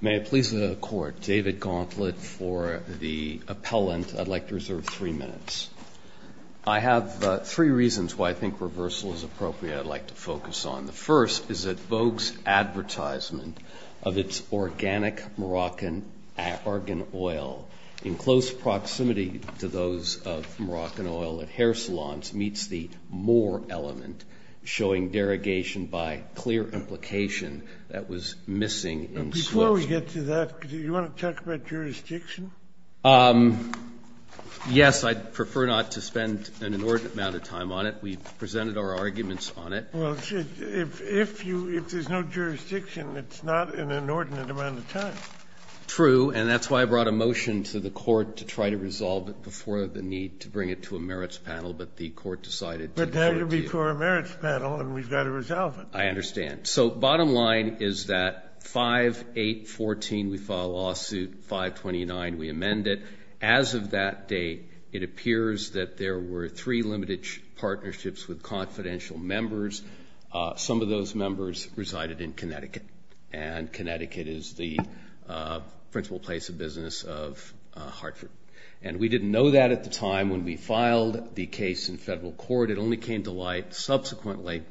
May it please the Court, David Gauntlett for the appellant. I'd like to reserve three minutes. I have three reasons why I think reversal is appropriate I'd like to focus on. The first is that Vogue's advertisement of its organic Moroccan argan oil in close proximity to those of Moroccan oil at hair salons meets the more element, showing derogation by clear implication that was missing in Swift's. Sotomayor, before we get to that, do you want to talk about jurisdiction? Yes. I'd prefer not to spend an inordinate amount of time on it. We've presented our arguments on it. Well, if you – if there's no jurisdiction, it's not an inordinate amount of time. True, and that's why I brought a motion to the Court to try to resolve it before the need to bring it to a merits panel, but the Court decided to defer to you. But that would be for a merits panel, and we've got to resolve it. I understand. So bottom line is that 5-814, we file a lawsuit, 529 we amend it. As of that date, it appears that there were three limited partnerships with confidential members. Some of those members resided in Connecticut, and Connecticut is the principal place of business of Hartford. And we didn't know that at the time when we filed the case in federal court. It only came to light subsequently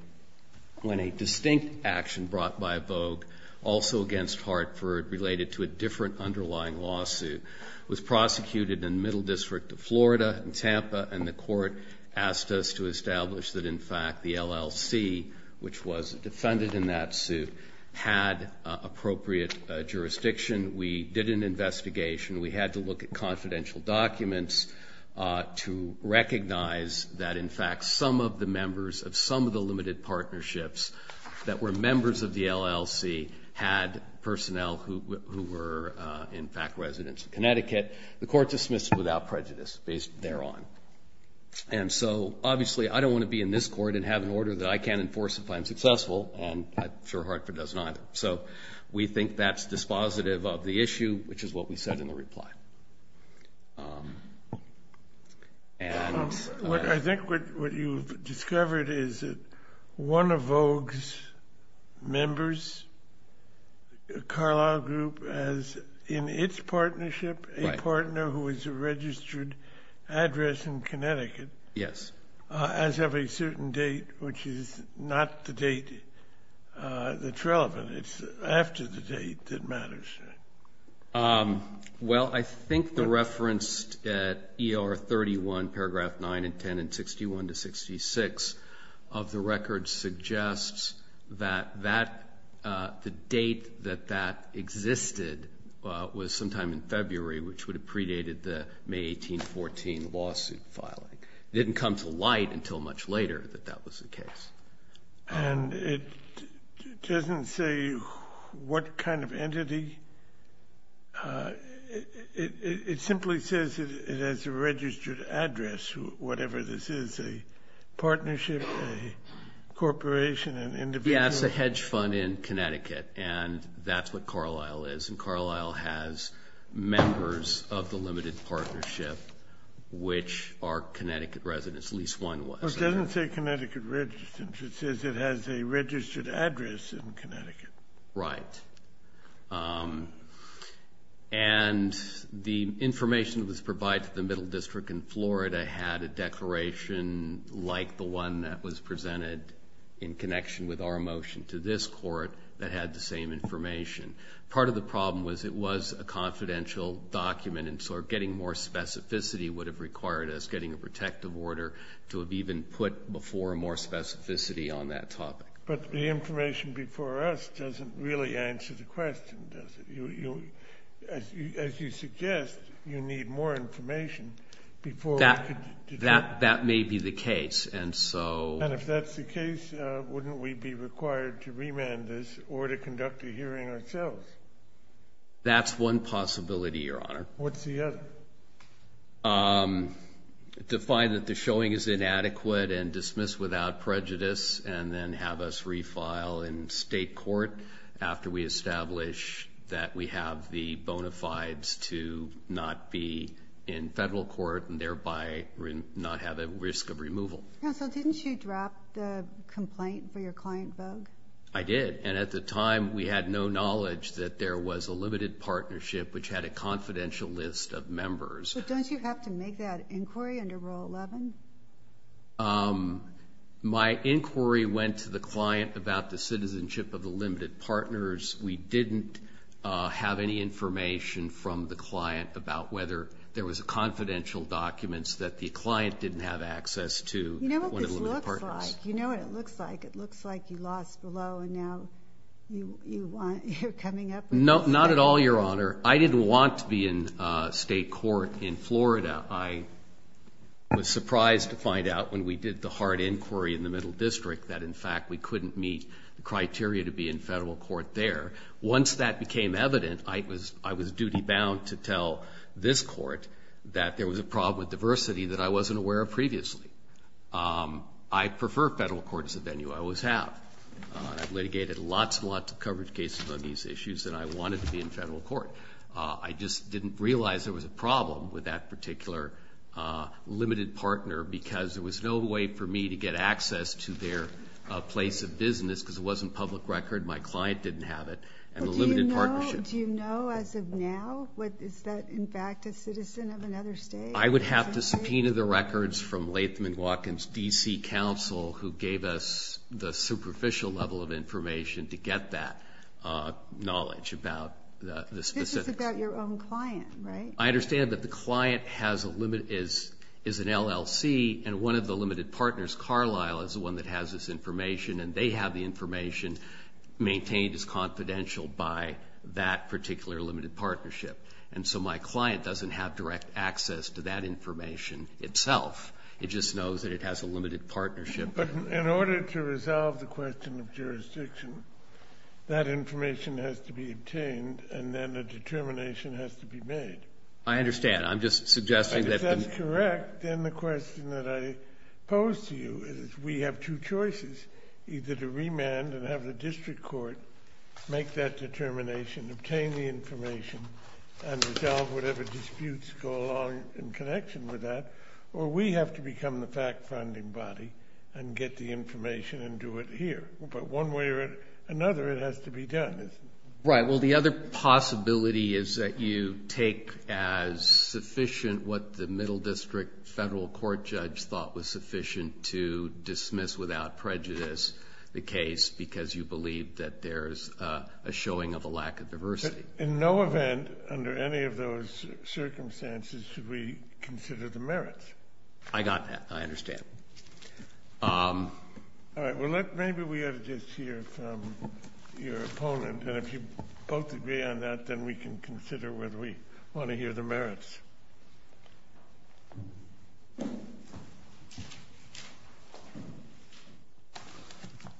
when a distinct action brought by Vogue, also against Hartford related to a different underlying lawsuit, was prosecuted in the Middle District of Florida, in Tampa, and the Court asked us to establish that, in fact, the LLC, which was defended in that suit, had appropriate jurisdiction. We did an investigation. We had to look at confidential documents to recognize that, in fact, some of the members of some of the limited partnerships that were members of the LLC had personnel who were, in fact, residents of Connecticut. The court dismissed without prejudice based thereon. And so, obviously, I don't want to be in this court and have an order that I can't enforce if I'm successful, and I'm sure Hartford does not. So we think that's dispositive of the issue, which is what we said in the reply. I think what you've discovered is that one of Vogue's members, Carlisle Group, has, in its partnership, a partner who is a registered address in Connecticut. Yes. As of a certain date, which is not the date that's relevant, it's after the date that matters. Well, I think the reference at ER 31, paragraph 9 and 10, and 61 to 66 of the record suggests that that, the date that that existed was sometime in February, which would have predated the May 1814 lawsuit filing. It didn't come to light until much later that that was the case. And it doesn't say what kind of entity. It simply says it has a registered address, whatever this is, a partnership, a corporation, an individual. Yes, a hedge fund in Connecticut, and that's what Carlisle is, and Carlisle has members of the limited partnership, which are Connecticut residents, at least one was. Well, it doesn't say Connecticut registered, it says it has a registered address in Connecticut. Right. And the information that was provided to the Middle District in Florida had a declaration the one that was presented in connection with our motion to this court that had the same information. Part of the problem was it was a confidential document, and so getting more specificity would have required us getting a protective order to have even put before more specificity on that topic. But the information before us doesn't really answer the question, does it? As you suggest, you need more information before we could do that. That may be the case. And so... And if that's the case, wouldn't we be required to remand this or to conduct a hearing ourselves? That's one possibility, Your Honor. What's the other? To find that the showing is inadequate and dismiss without prejudice and then have us that we have the bona fides to not be in federal court and thereby not have a risk of removal. Counsel, didn't you drop the complaint for your client, Vogue? I did. And at the time, we had no knowledge that there was a limited partnership which had a confidential list of members. But don't you have to make that inquiry under Rule 11? My inquiry went to the client about the citizenship of the limited partners. We didn't have any information from the client about whether there was confidential documents that the client didn't have access to when it limited partners. You know what this looks like. You know what it looks like. It looks like you lost below and now you're coming up with... Not at all, Your Honor. I didn't want to be in state court in Florida. I was surprised to find out when we did the hard inquiry in the Middle District that, in fact, we couldn't meet the criteria to be in federal court. Once that became evident, I was duty-bound to tell this Court that there was a problem with diversity that I wasn't aware of previously. I prefer federal court as a venue. I always have. I've litigated lots and lots of coverage cases on these issues, and I wanted to be in federal court. I just didn't realize there was a problem with that particular limited partner because there was no way for me to get access to their place of business because it wasn't public record. My client didn't have it. And the limited partnership... Do you know, as of now, is that, in fact, a citizen of another state? I would have to subpoena the records from Latham & Watkins D.C. Council, who gave us the superficial level of information to get that knowledge about the specifics. This is about your own client, right? I understand that the client is an LLC, and one of the limited partners, Carlisle, is have the information maintained as confidential by that particular limited partnership. And so my client doesn't have direct access to that information itself. It just knows that it has a limited partnership. But in order to resolve the question of jurisdiction, that information has to be obtained, and then a determination has to be made. I understand. I'm just suggesting that... If I'm correct, then the question that I pose to you is we have two choices, either to remand and have the district court make that determination, obtain the information, and resolve whatever disputes go along in connection with that, or we have to become the fact-finding body and get the information and do it here. But one way or another, it has to be done, isn't it? Right. Well, the other possibility is that you take as sufficient what the middle district federal court judge thought was sufficient to dismiss without prejudice the case because you believe that there's a showing of a lack of diversity. In no event under any of those circumstances should we consider the merits. I understand. All right. Well, let... Maybe we ought to just hear from your opponent, and if you both agree on that, then we can consider whether we want to hear the merits.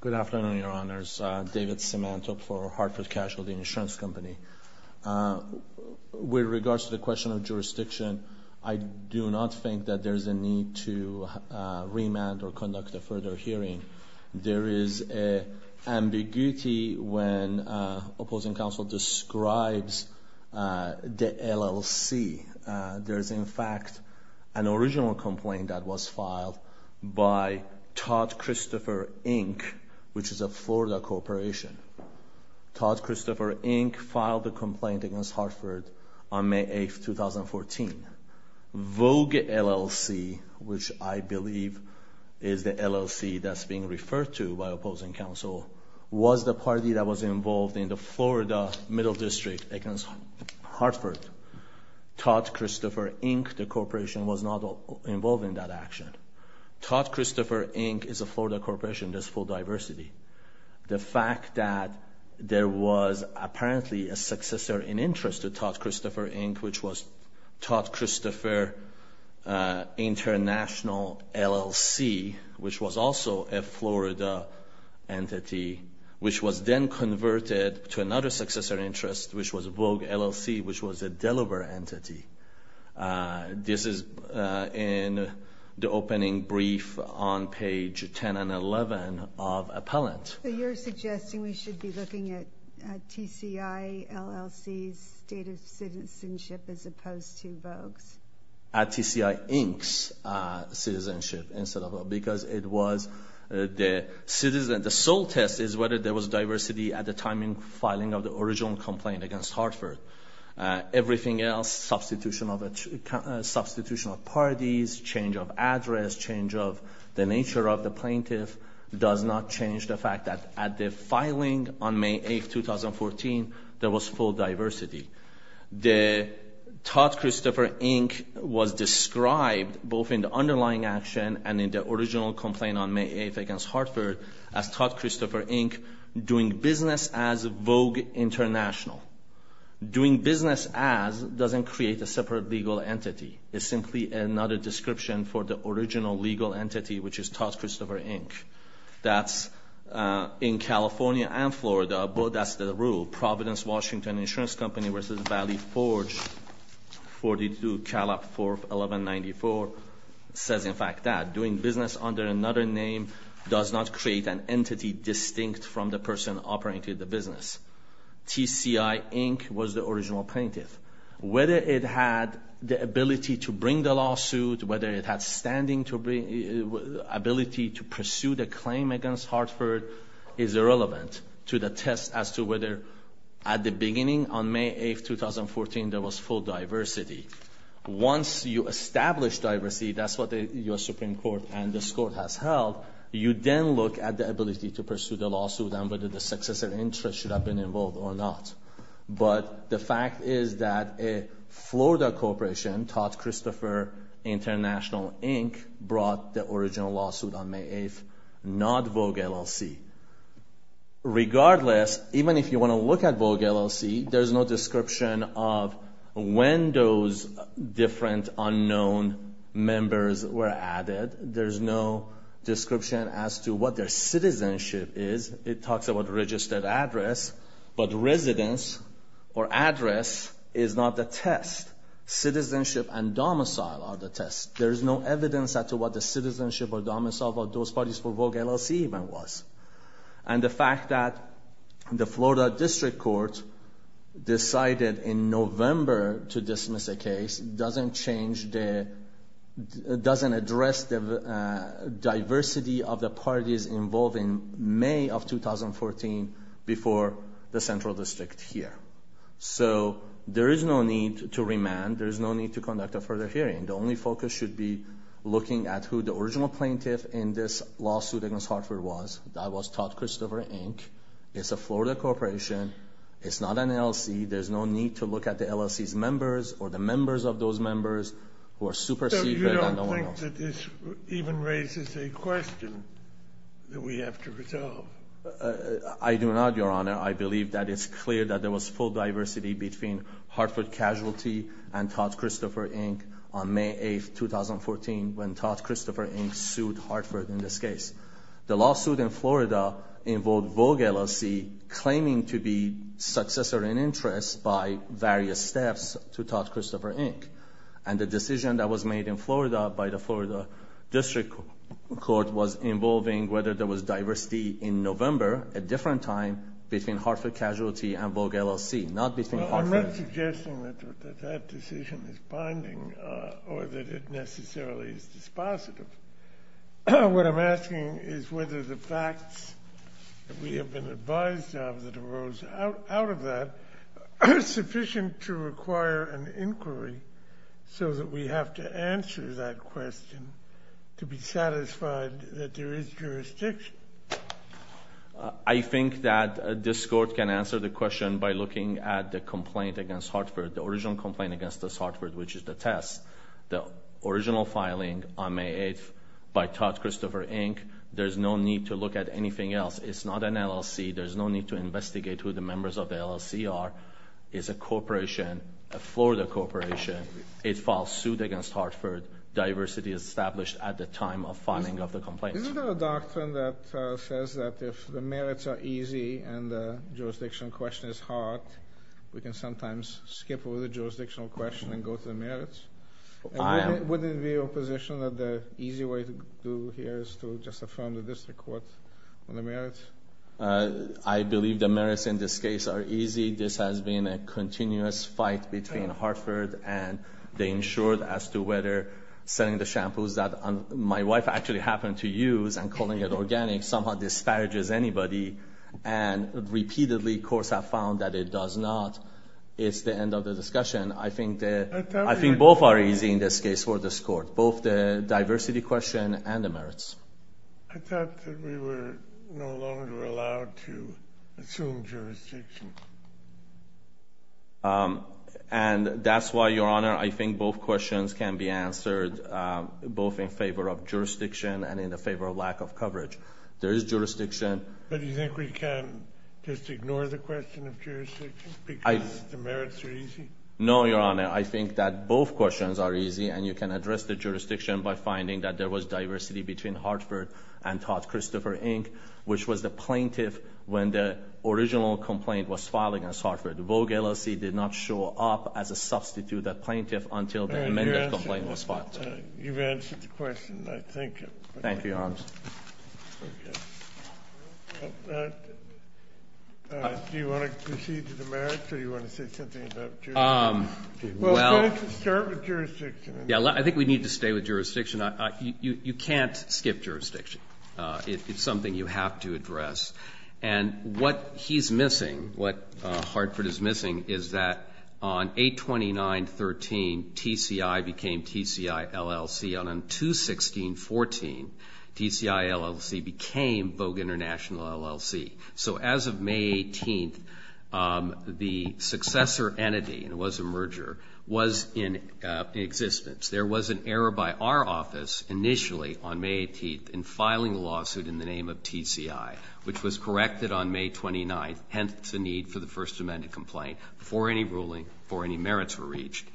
Good afternoon, Your Honors. David Simanto for Hartford Casualty Insurance Company. With regards to the question of jurisdiction, I do not think that there's a need to remand or conduct a further hearing. There is an ambiguity when opposing counsel describes the LLC. There's in fact an original complaint that was filed by Todd Christopher, Inc., which is a Florida corporation. Todd Christopher, Inc. filed the complaint against Hartford on May 8th, 2014. Vogue LLC, which I believe is the LLC that's being referred to by opposing counsel, was the party that was involved in the Florida middle district against Hartford. Todd Christopher, Inc., the corporation, was not involved in that action. Todd Christopher, Inc. is a Florida corporation. There's full diversity. The fact that there was apparently a successor in interest to Todd Christopher, Inc., which was Todd Christopher International LLC, which was also a Florida entity, which was then converted to another successor in interest, which was Vogue LLC, which was a Delaware entity. This is in the opening brief on page 10 and 11 of Appellant. You're suggesting we should be looking at TCI, LLC's state of citizenship as opposed to Vogue's? At TCI, Inc.'s citizenship, because the sole test is whether there was diversity at the time in filing of the original complaint against Hartford. Everything else, substitution of parties, change of address, change of the nature of the plaintiff, does not change the fact that at the filing on May 8th, 2014, there was full diversity. The Todd Christopher, Inc. was described, both in the underlying action and in the original complaint on May 8th against Hartford, as Todd Christopher, Inc., doing business as Vogue International. Doing business as doesn't create a separate legal entity. It's simply another description for the original legal entity, which is Todd Christopher, Inc. That's in California and Florida, but that's the rule. Providence Washington Insurance Company v. Valley Forge, 42 Calab 4, 1194, says in fact that. Doing business under another name does not create an entity distinct from the person operating the business. TCI, Inc. was the original plaintiff. Whether it had the ability to bring the lawsuit, whether it had standing to bring, ability to pursue the claim against Hartford is irrelevant to the test as to whether at the beginning on May 8th, 2014, there was full diversity. Once you establish diversity, that's what the U.S. Supreme Court and this Court has held, you then look at the ability to pursue the lawsuit and whether the successor interest should have been involved or not. But the fact is that a Florida corporation, Todd Christopher International, Inc., brought the original lawsuit on May 8th, not Vogue LLC. Regardless, even if you want to look at Vogue LLC, there's no description of when those different unknown members were added. There's no description as to what their citizenship is. It talks about registered address, but residence or address is not the test. Citizenship and domicile are the test. There's no evidence as to what the citizenship or domicile of those parties for Vogue LLC even was. And the fact that the Florida District Court decided in November to dismiss a case doesn't change, doesn't address the diversity of the parties involved in May of 2014 before the Central District here. So there is no need to remand. There is no need to conduct a further hearing. The only focus should be looking at who the original plaintiff in this lawsuit against Hartford was. That was Todd Christopher, Inc. It's a Florida corporation. It's not an LLC. There's no need to look at the LLC's members or the members of those members who are super secret and unknown. So you don't think that this even raises a question that we have to resolve? I do not, Your Honor. I believe that it's clear that there was full diversity between Hartford Casualty and Todd Christopher, Inc. on May 8, 2014, when Todd Christopher, Inc. sued Hartford in this case. The lawsuit in Florida involved Vogue, LLC, claiming to be successor in interest by various steps to Todd Christopher, Inc. And the decision that was made in Florida by the Florida District Court was involving whether there was diversity in November, a different time, between Hartford Casualty and Vogue, LLC, not between Hartford and Vogue, LLC. Well, I'm not suggesting that that decision is binding or that it necessarily is dispositive. What I'm asking is whether the facts that we have been advised of that arose out of that are sufficient to require an inquiry so that we have to answer that question to be satisfied that there is jurisdiction. I think that this Court can answer the question by looking at the complaint against Hartford, the original complaint against Hartford, which is the test. The original filing on May 8 by Todd Christopher, Inc., there's no need to look at anything else. It's not an LLC. There's no need to investigate who the members of the LLC are. It's a corporation, a Florida corporation. It filed suit against Hartford. Diversity established at the time of filing of the complaint. Isn't there a doctrine that says that if the merits are easy and the jurisdictional question is hard, we can sometimes skip over the jurisdictional question and go to the merits? Wouldn't it be your position that the easy way to do here is to just affirm the district court on the merits? I believe the merits in this case are easy. This has been a continuous fight between Hartford and they ensured as to whether selling the shampoos that my wife actually happened to use and calling it organic somehow disparages anybody and repeatedly courts have found that it does not. It's the end of the discussion. I think that I think both are easy in this case for this court, both the diversity question and the merits. I thought that we were no longer allowed to assume jurisdiction. And that's why, Your Honor, I think both questions can be answered both in favor of jurisdiction and in the favor of lack of coverage. There is jurisdiction. But do you think we can just ignore the question of jurisdiction because the merits are easy? No, Your Honor. I think that both questions are easy and you can address the jurisdiction by finding that there was diversity between Hartford and Todd Christopher, Inc., which was the plaintiff when the original complaint was filed against Hartford. The Vogue LLC did not show up as a substitute plaintiff until the amended complaint was You've answered the question, I think. Thank you, Your Honor. Thank you. Do you want to proceed to the merits or do you want to say something about jurisdiction? Well, let's start with jurisdiction. Yeah, I think we need to stay with jurisdiction. You can't skip jurisdiction. It's something you have to address. And what he's missing, what Hartford is missing, is that on 829.13, TCI became TCI LLC. And on 216.14, TCI LLC became Vogue International LLC. So as of May 18th, the successor entity, and it was a merger, was in existence. There was an error by our office initially on May 18th in filing a lawsuit in the name of TCI, which was corrected on May 29th, hence the need for the First Amendment complaint, before any ruling, before any merits were reached.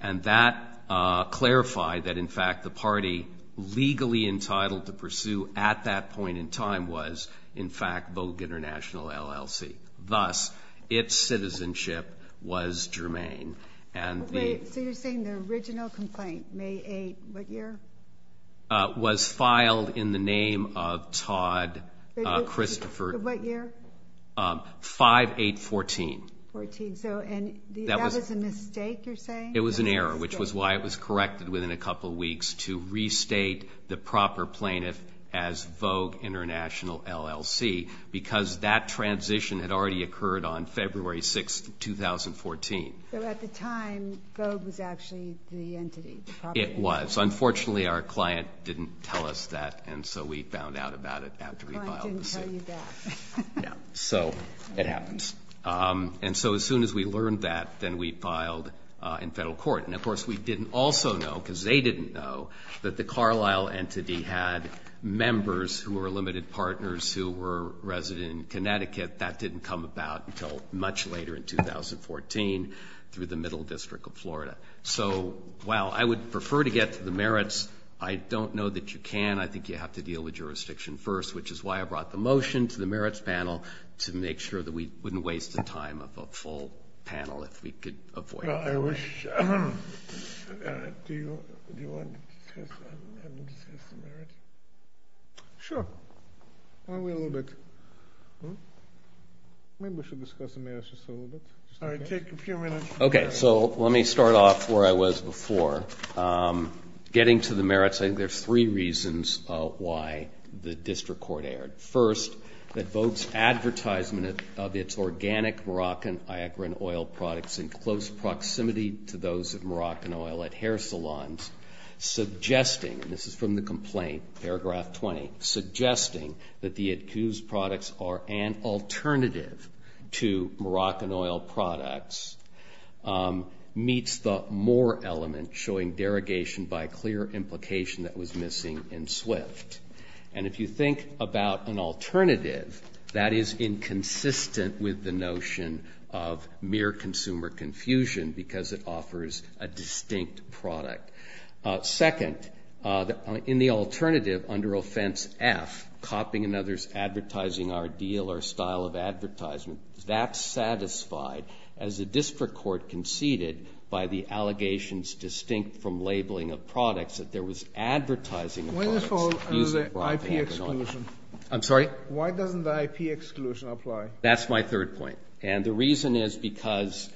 And that clarified that, in fact, the party legally entitled to pursue at that point in time was, in fact, Vogue International LLC. Thus, its citizenship was germane. So you're saying the original complaint, May 8th, what year? Was filed in the name of Todd Christopher. What year? 5-8-14. 14. So that was a mistake, you're saying? It was an error, which was why it was corrected within a couple weeks to restate the proper plaintiff as Vogue International LLC, because that transition had already occurred on February 6th, 2014. So at the time, Vogue was actually the entity. It was. Unfortunately, our client didn't tell us that, and so we found out about it after we filed the suit. The client didn't tell you that. No. So it happens. And so as soon as we learned that, then we filed in federal court. And, of course, we didn't also know, because they didn't know, that the Carlisle entity had members who were limited partners who were resident in Connecticut. That didn't come about until much later in 2014 through the Middle District of Florida. So while I would prefer to get to the merits, I don't know that you can. I think you have to deal with jurisdiction first, which is why I brought the motion to the merits panel to make sure that we wouldn't waste the time of a full panel if we could avoid it. I wish. Do you want to discuss the merits? Sure. Why don't we wait a little bit? Maybe we should discuss the merits just a little bit. All right. Take a few minutes. Okay. So let me start off where I was before. Getting to the merits, I think there's three reasons why the district court erred. First, that Vogt's advertisement of its organic Moroccan Iocran oil products in close proximity to those of Moroccan oil at hair salons, suggesting, and this is from the complaint, paragraph 20, suggesting that the ITCU's products are an alternative to Moroccan oil products, meets the more element showing derogation by a clear implication that was missing in SWIFT. And if you think about an alternative, that is inconsistent with the notion of mere consumer confusion because it offers a distinct product. Second, in the alternative, under offense F, copying another's advertising ideal or style of advertisement, that's satisfied as the district court conceded by the allegations distinct from labeling of products that there was advertising of products using Moroccan oil. I'm sorry? Why doesn't the IP exclusion apply? That's my third point. And the reason is because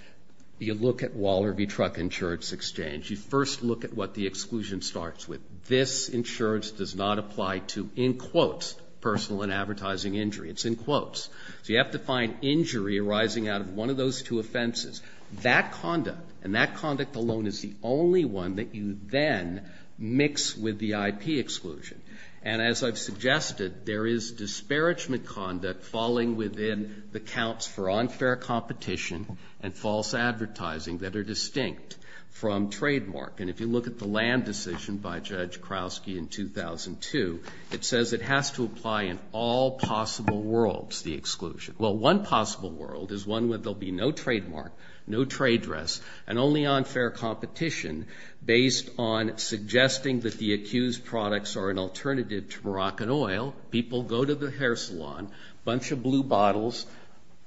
you look at Waller v. Truck Insurance Exchange. You first look at what the exclusion starts with. This insurance does not apply to, in quotes, personal and advertising injury. It's in quotes. So you have to find injury arising out of one of those two offenses. That conduct and that conduct alone is the only one that you then mix with the IP exclusion. And as I've suggested, there is disparagement conduct falling within the counts for unfair competition and false advertising that are distinct from trademark. And if you look at the land decision by Judge Krauske in 2002, it says it has to apply in all possible worlds. That's the exclusion. Well, one possible world is one where there will be no trademark, no trade dress, and only unfair competition based on suggesting that the accused products are an alternative to Moroccan oil. People go to the hair salon, a bunch of blue bottles.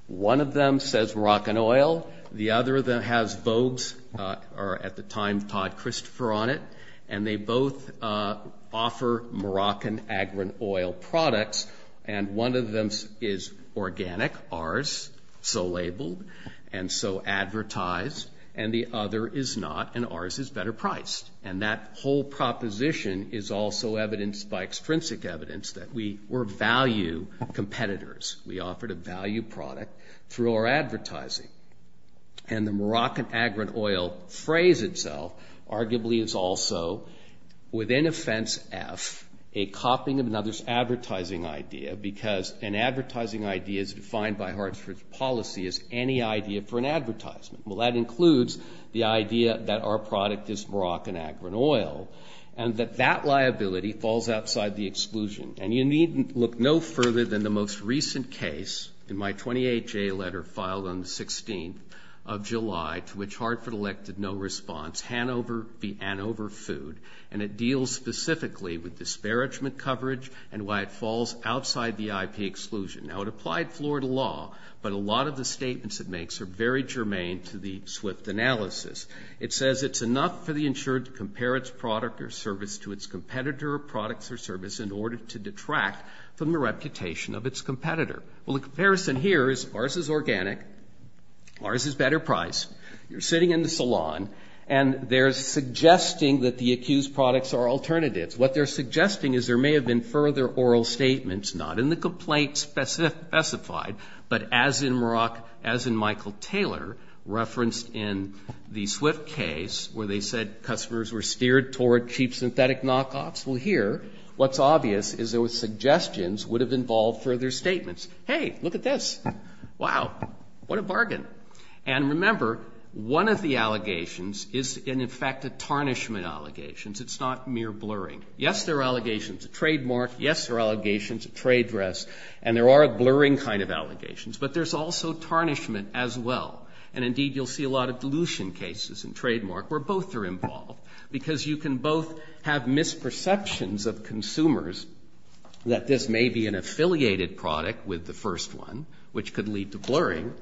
One of them says Moroccan oil. The other has Vogue's or at the time Todd Christopher on it. And they both offer Moroccan agri-oil products. And one of them is organic, ours, so labeled and so advertised. And the other is not, and ours is better priced. And that whole proposition is also evidenced by extrinsic evidence that we were value competitors. We offered a value product through our advertising. And the Moroccan agri-oil phrase itself arguably is also within offense F, a copying of another's advertising idea because an advertising idea is defined by Hartford's policy as any idea for an advertisement. Well, that includes the idea that our product is Moroccan agri-oil and that that liability falls outside the exclusion. And you needn't look no further than the most recent case in my 28-J letter filed on the 16th of July to which Hartford elected no response, Hanover v. Anover Food. And it deals specifically with disparagement coverage and why it falls outside the IP exclusion. Now, it applied Florida law, but a lot of the statements it makes are very germane to the SWIFT analysis. It says it's enough for the insured to compare its product or service to its competitor or products or service in order to detract from the reputation of its competitor. Well, the comparison here is ours is organic, ours is better priced. You're sitting in the salon and they're suggesting that the accused products are alternatives. What they're suggesting is there may have been further oral statements, not in the complaint specified, but as in Michael Taylor referenced in the SWIFT case where they said customers were steered toward cheap synthetic knockoffs. Well, here what's obvious is those suggestions Hey, look at this. Wow, what a bargain. And remember, one of the allegations is in effect a tarnishment allegation. It's not mere blurring. Yes, there are allegations of trademark. Yes, there are allegations of trade dress and there are blurring kind of allegations, but there's also tarnishment as well. And indeed, you'll see a lot of dilution cases and trademark where both are involved because you can both have misperceptions of consumers that this may be an affiliated product with the first one, which could lead to blurring.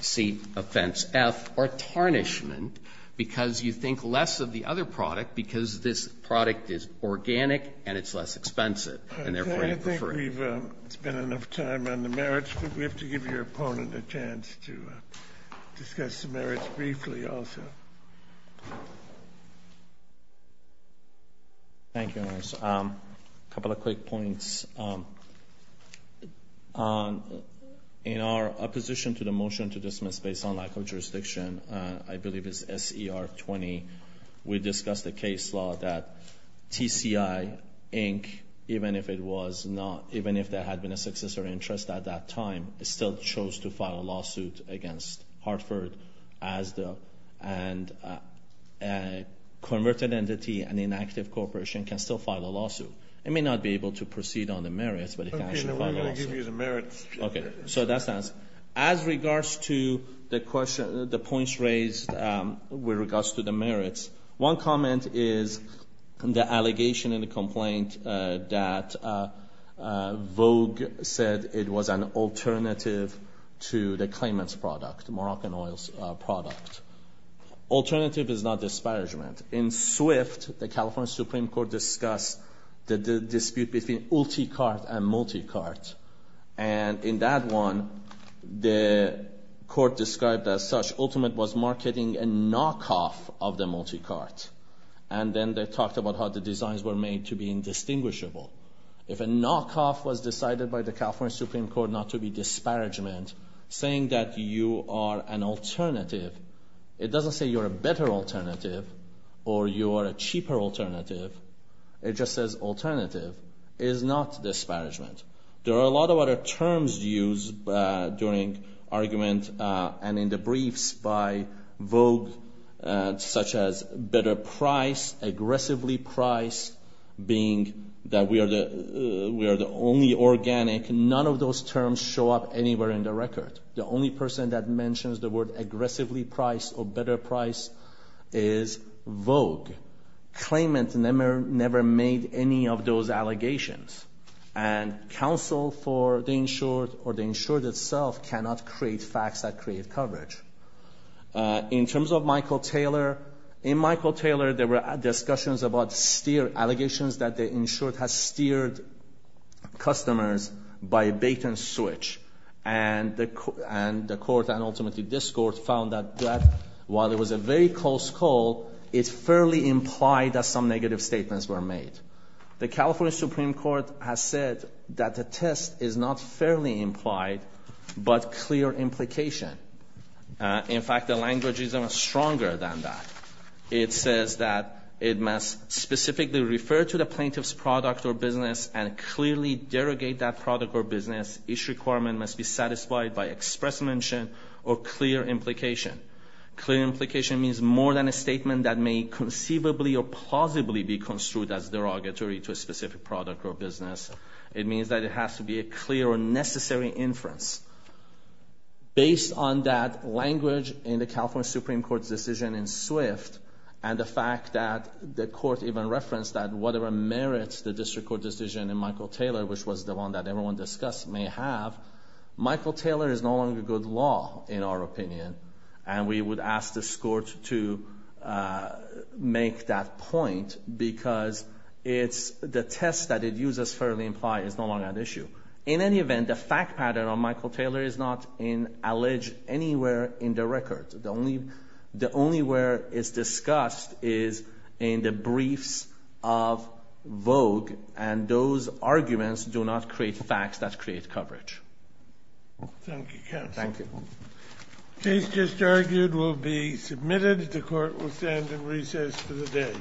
C, offense F, or tarnishment because you think less of the other product because this product is organic and it's less expensive and therefore you prefer it. I think we've spent enough time on the merits but we have to give your opponent a chance to discuss the merits briefly also. Thank you, Your Honor. A couple of quick points. In our opposition to the motion to dismiss based on lack of jurisdiction, I believe it's S.E.R. 20, we discussed the case law that TCI, Inc., even if it was not, even if there had been a successor interest at that time, still chose to file a lawsuit against Hartford, Asda, and a converted entity, an inactive corporation can still file a lawsuit. It may not be able to proceed on its own on the merits, but it can actually file a lawsuit. Okay, so that's the answer. As regards to the points raised with regards to the merits, one comment is the allegation in the complaint that Vogue said it was an alternative to the claimant's product, the Moroccan oil's product. Alternative is not disparagement. In Swift, the California Supreme Court discussed the dispute between ulticart and multicart. And in that one, the court described as such, Ultimate was marketing a knockoff of the multicart. And then they talked about how the designs were made to be indistinguishable. If a knockoff was decided by the California Supreme Court not to be disparagement, saying that you are an alternative, it doesn't say you're a better alternative or you are a cheaper alternative. It just says alternative is not disparagement. There are a lot of other terms used during argument and in the briefs by Vogue, such as better price, aggressively priced, being that we are the only organic. None of those terms show up anywhere in the record. The only person that mentions the word aggressively priced or better priced is Vogue. Claimant never made any of those allegations. And counsel for the insured or the insured itself cannot create facts that create coverage. In terms of Michael Taylor, in Michael Taylor there were discussions about allegations that the insured has steered customers by bait and switch. And the court and ultimately this court found that while it was a very close call, it fairly implied that some negative statements were made. The California Supreme Court has said that the test is not fairly implied but clear implication. In fact, the language is stronger than that. It says that it must specifically refer to the plaintiff's product or business and clearly derogate that product or business. Each requirement must be satisfied by express mention or clear implication. Clear implication means more than a statement that may conceivably or plausibly be construed as derogatory to a specific product or business. It means that it has to be a clear or necessary inference. Based on that language in the California Supreme Court's decision in Swift and the fact that the court even referenced that whatever merits the district court decision in Michael Taylor, which was the one that everyone discussed may have, Michael Taylor is no longer good law in our opinion and we would ask the court to make that point because the test that it uses fairly implied is no longer an issue. In any event, the fact pattern on Michael Taylor is not alleged anywhere in the record. The only where it's discussed is in the briefs of Vogue and those arguments do not create facts that create coverage. Thank you, counsel. The case just argued will be submitted. The court will stand in recess for the day.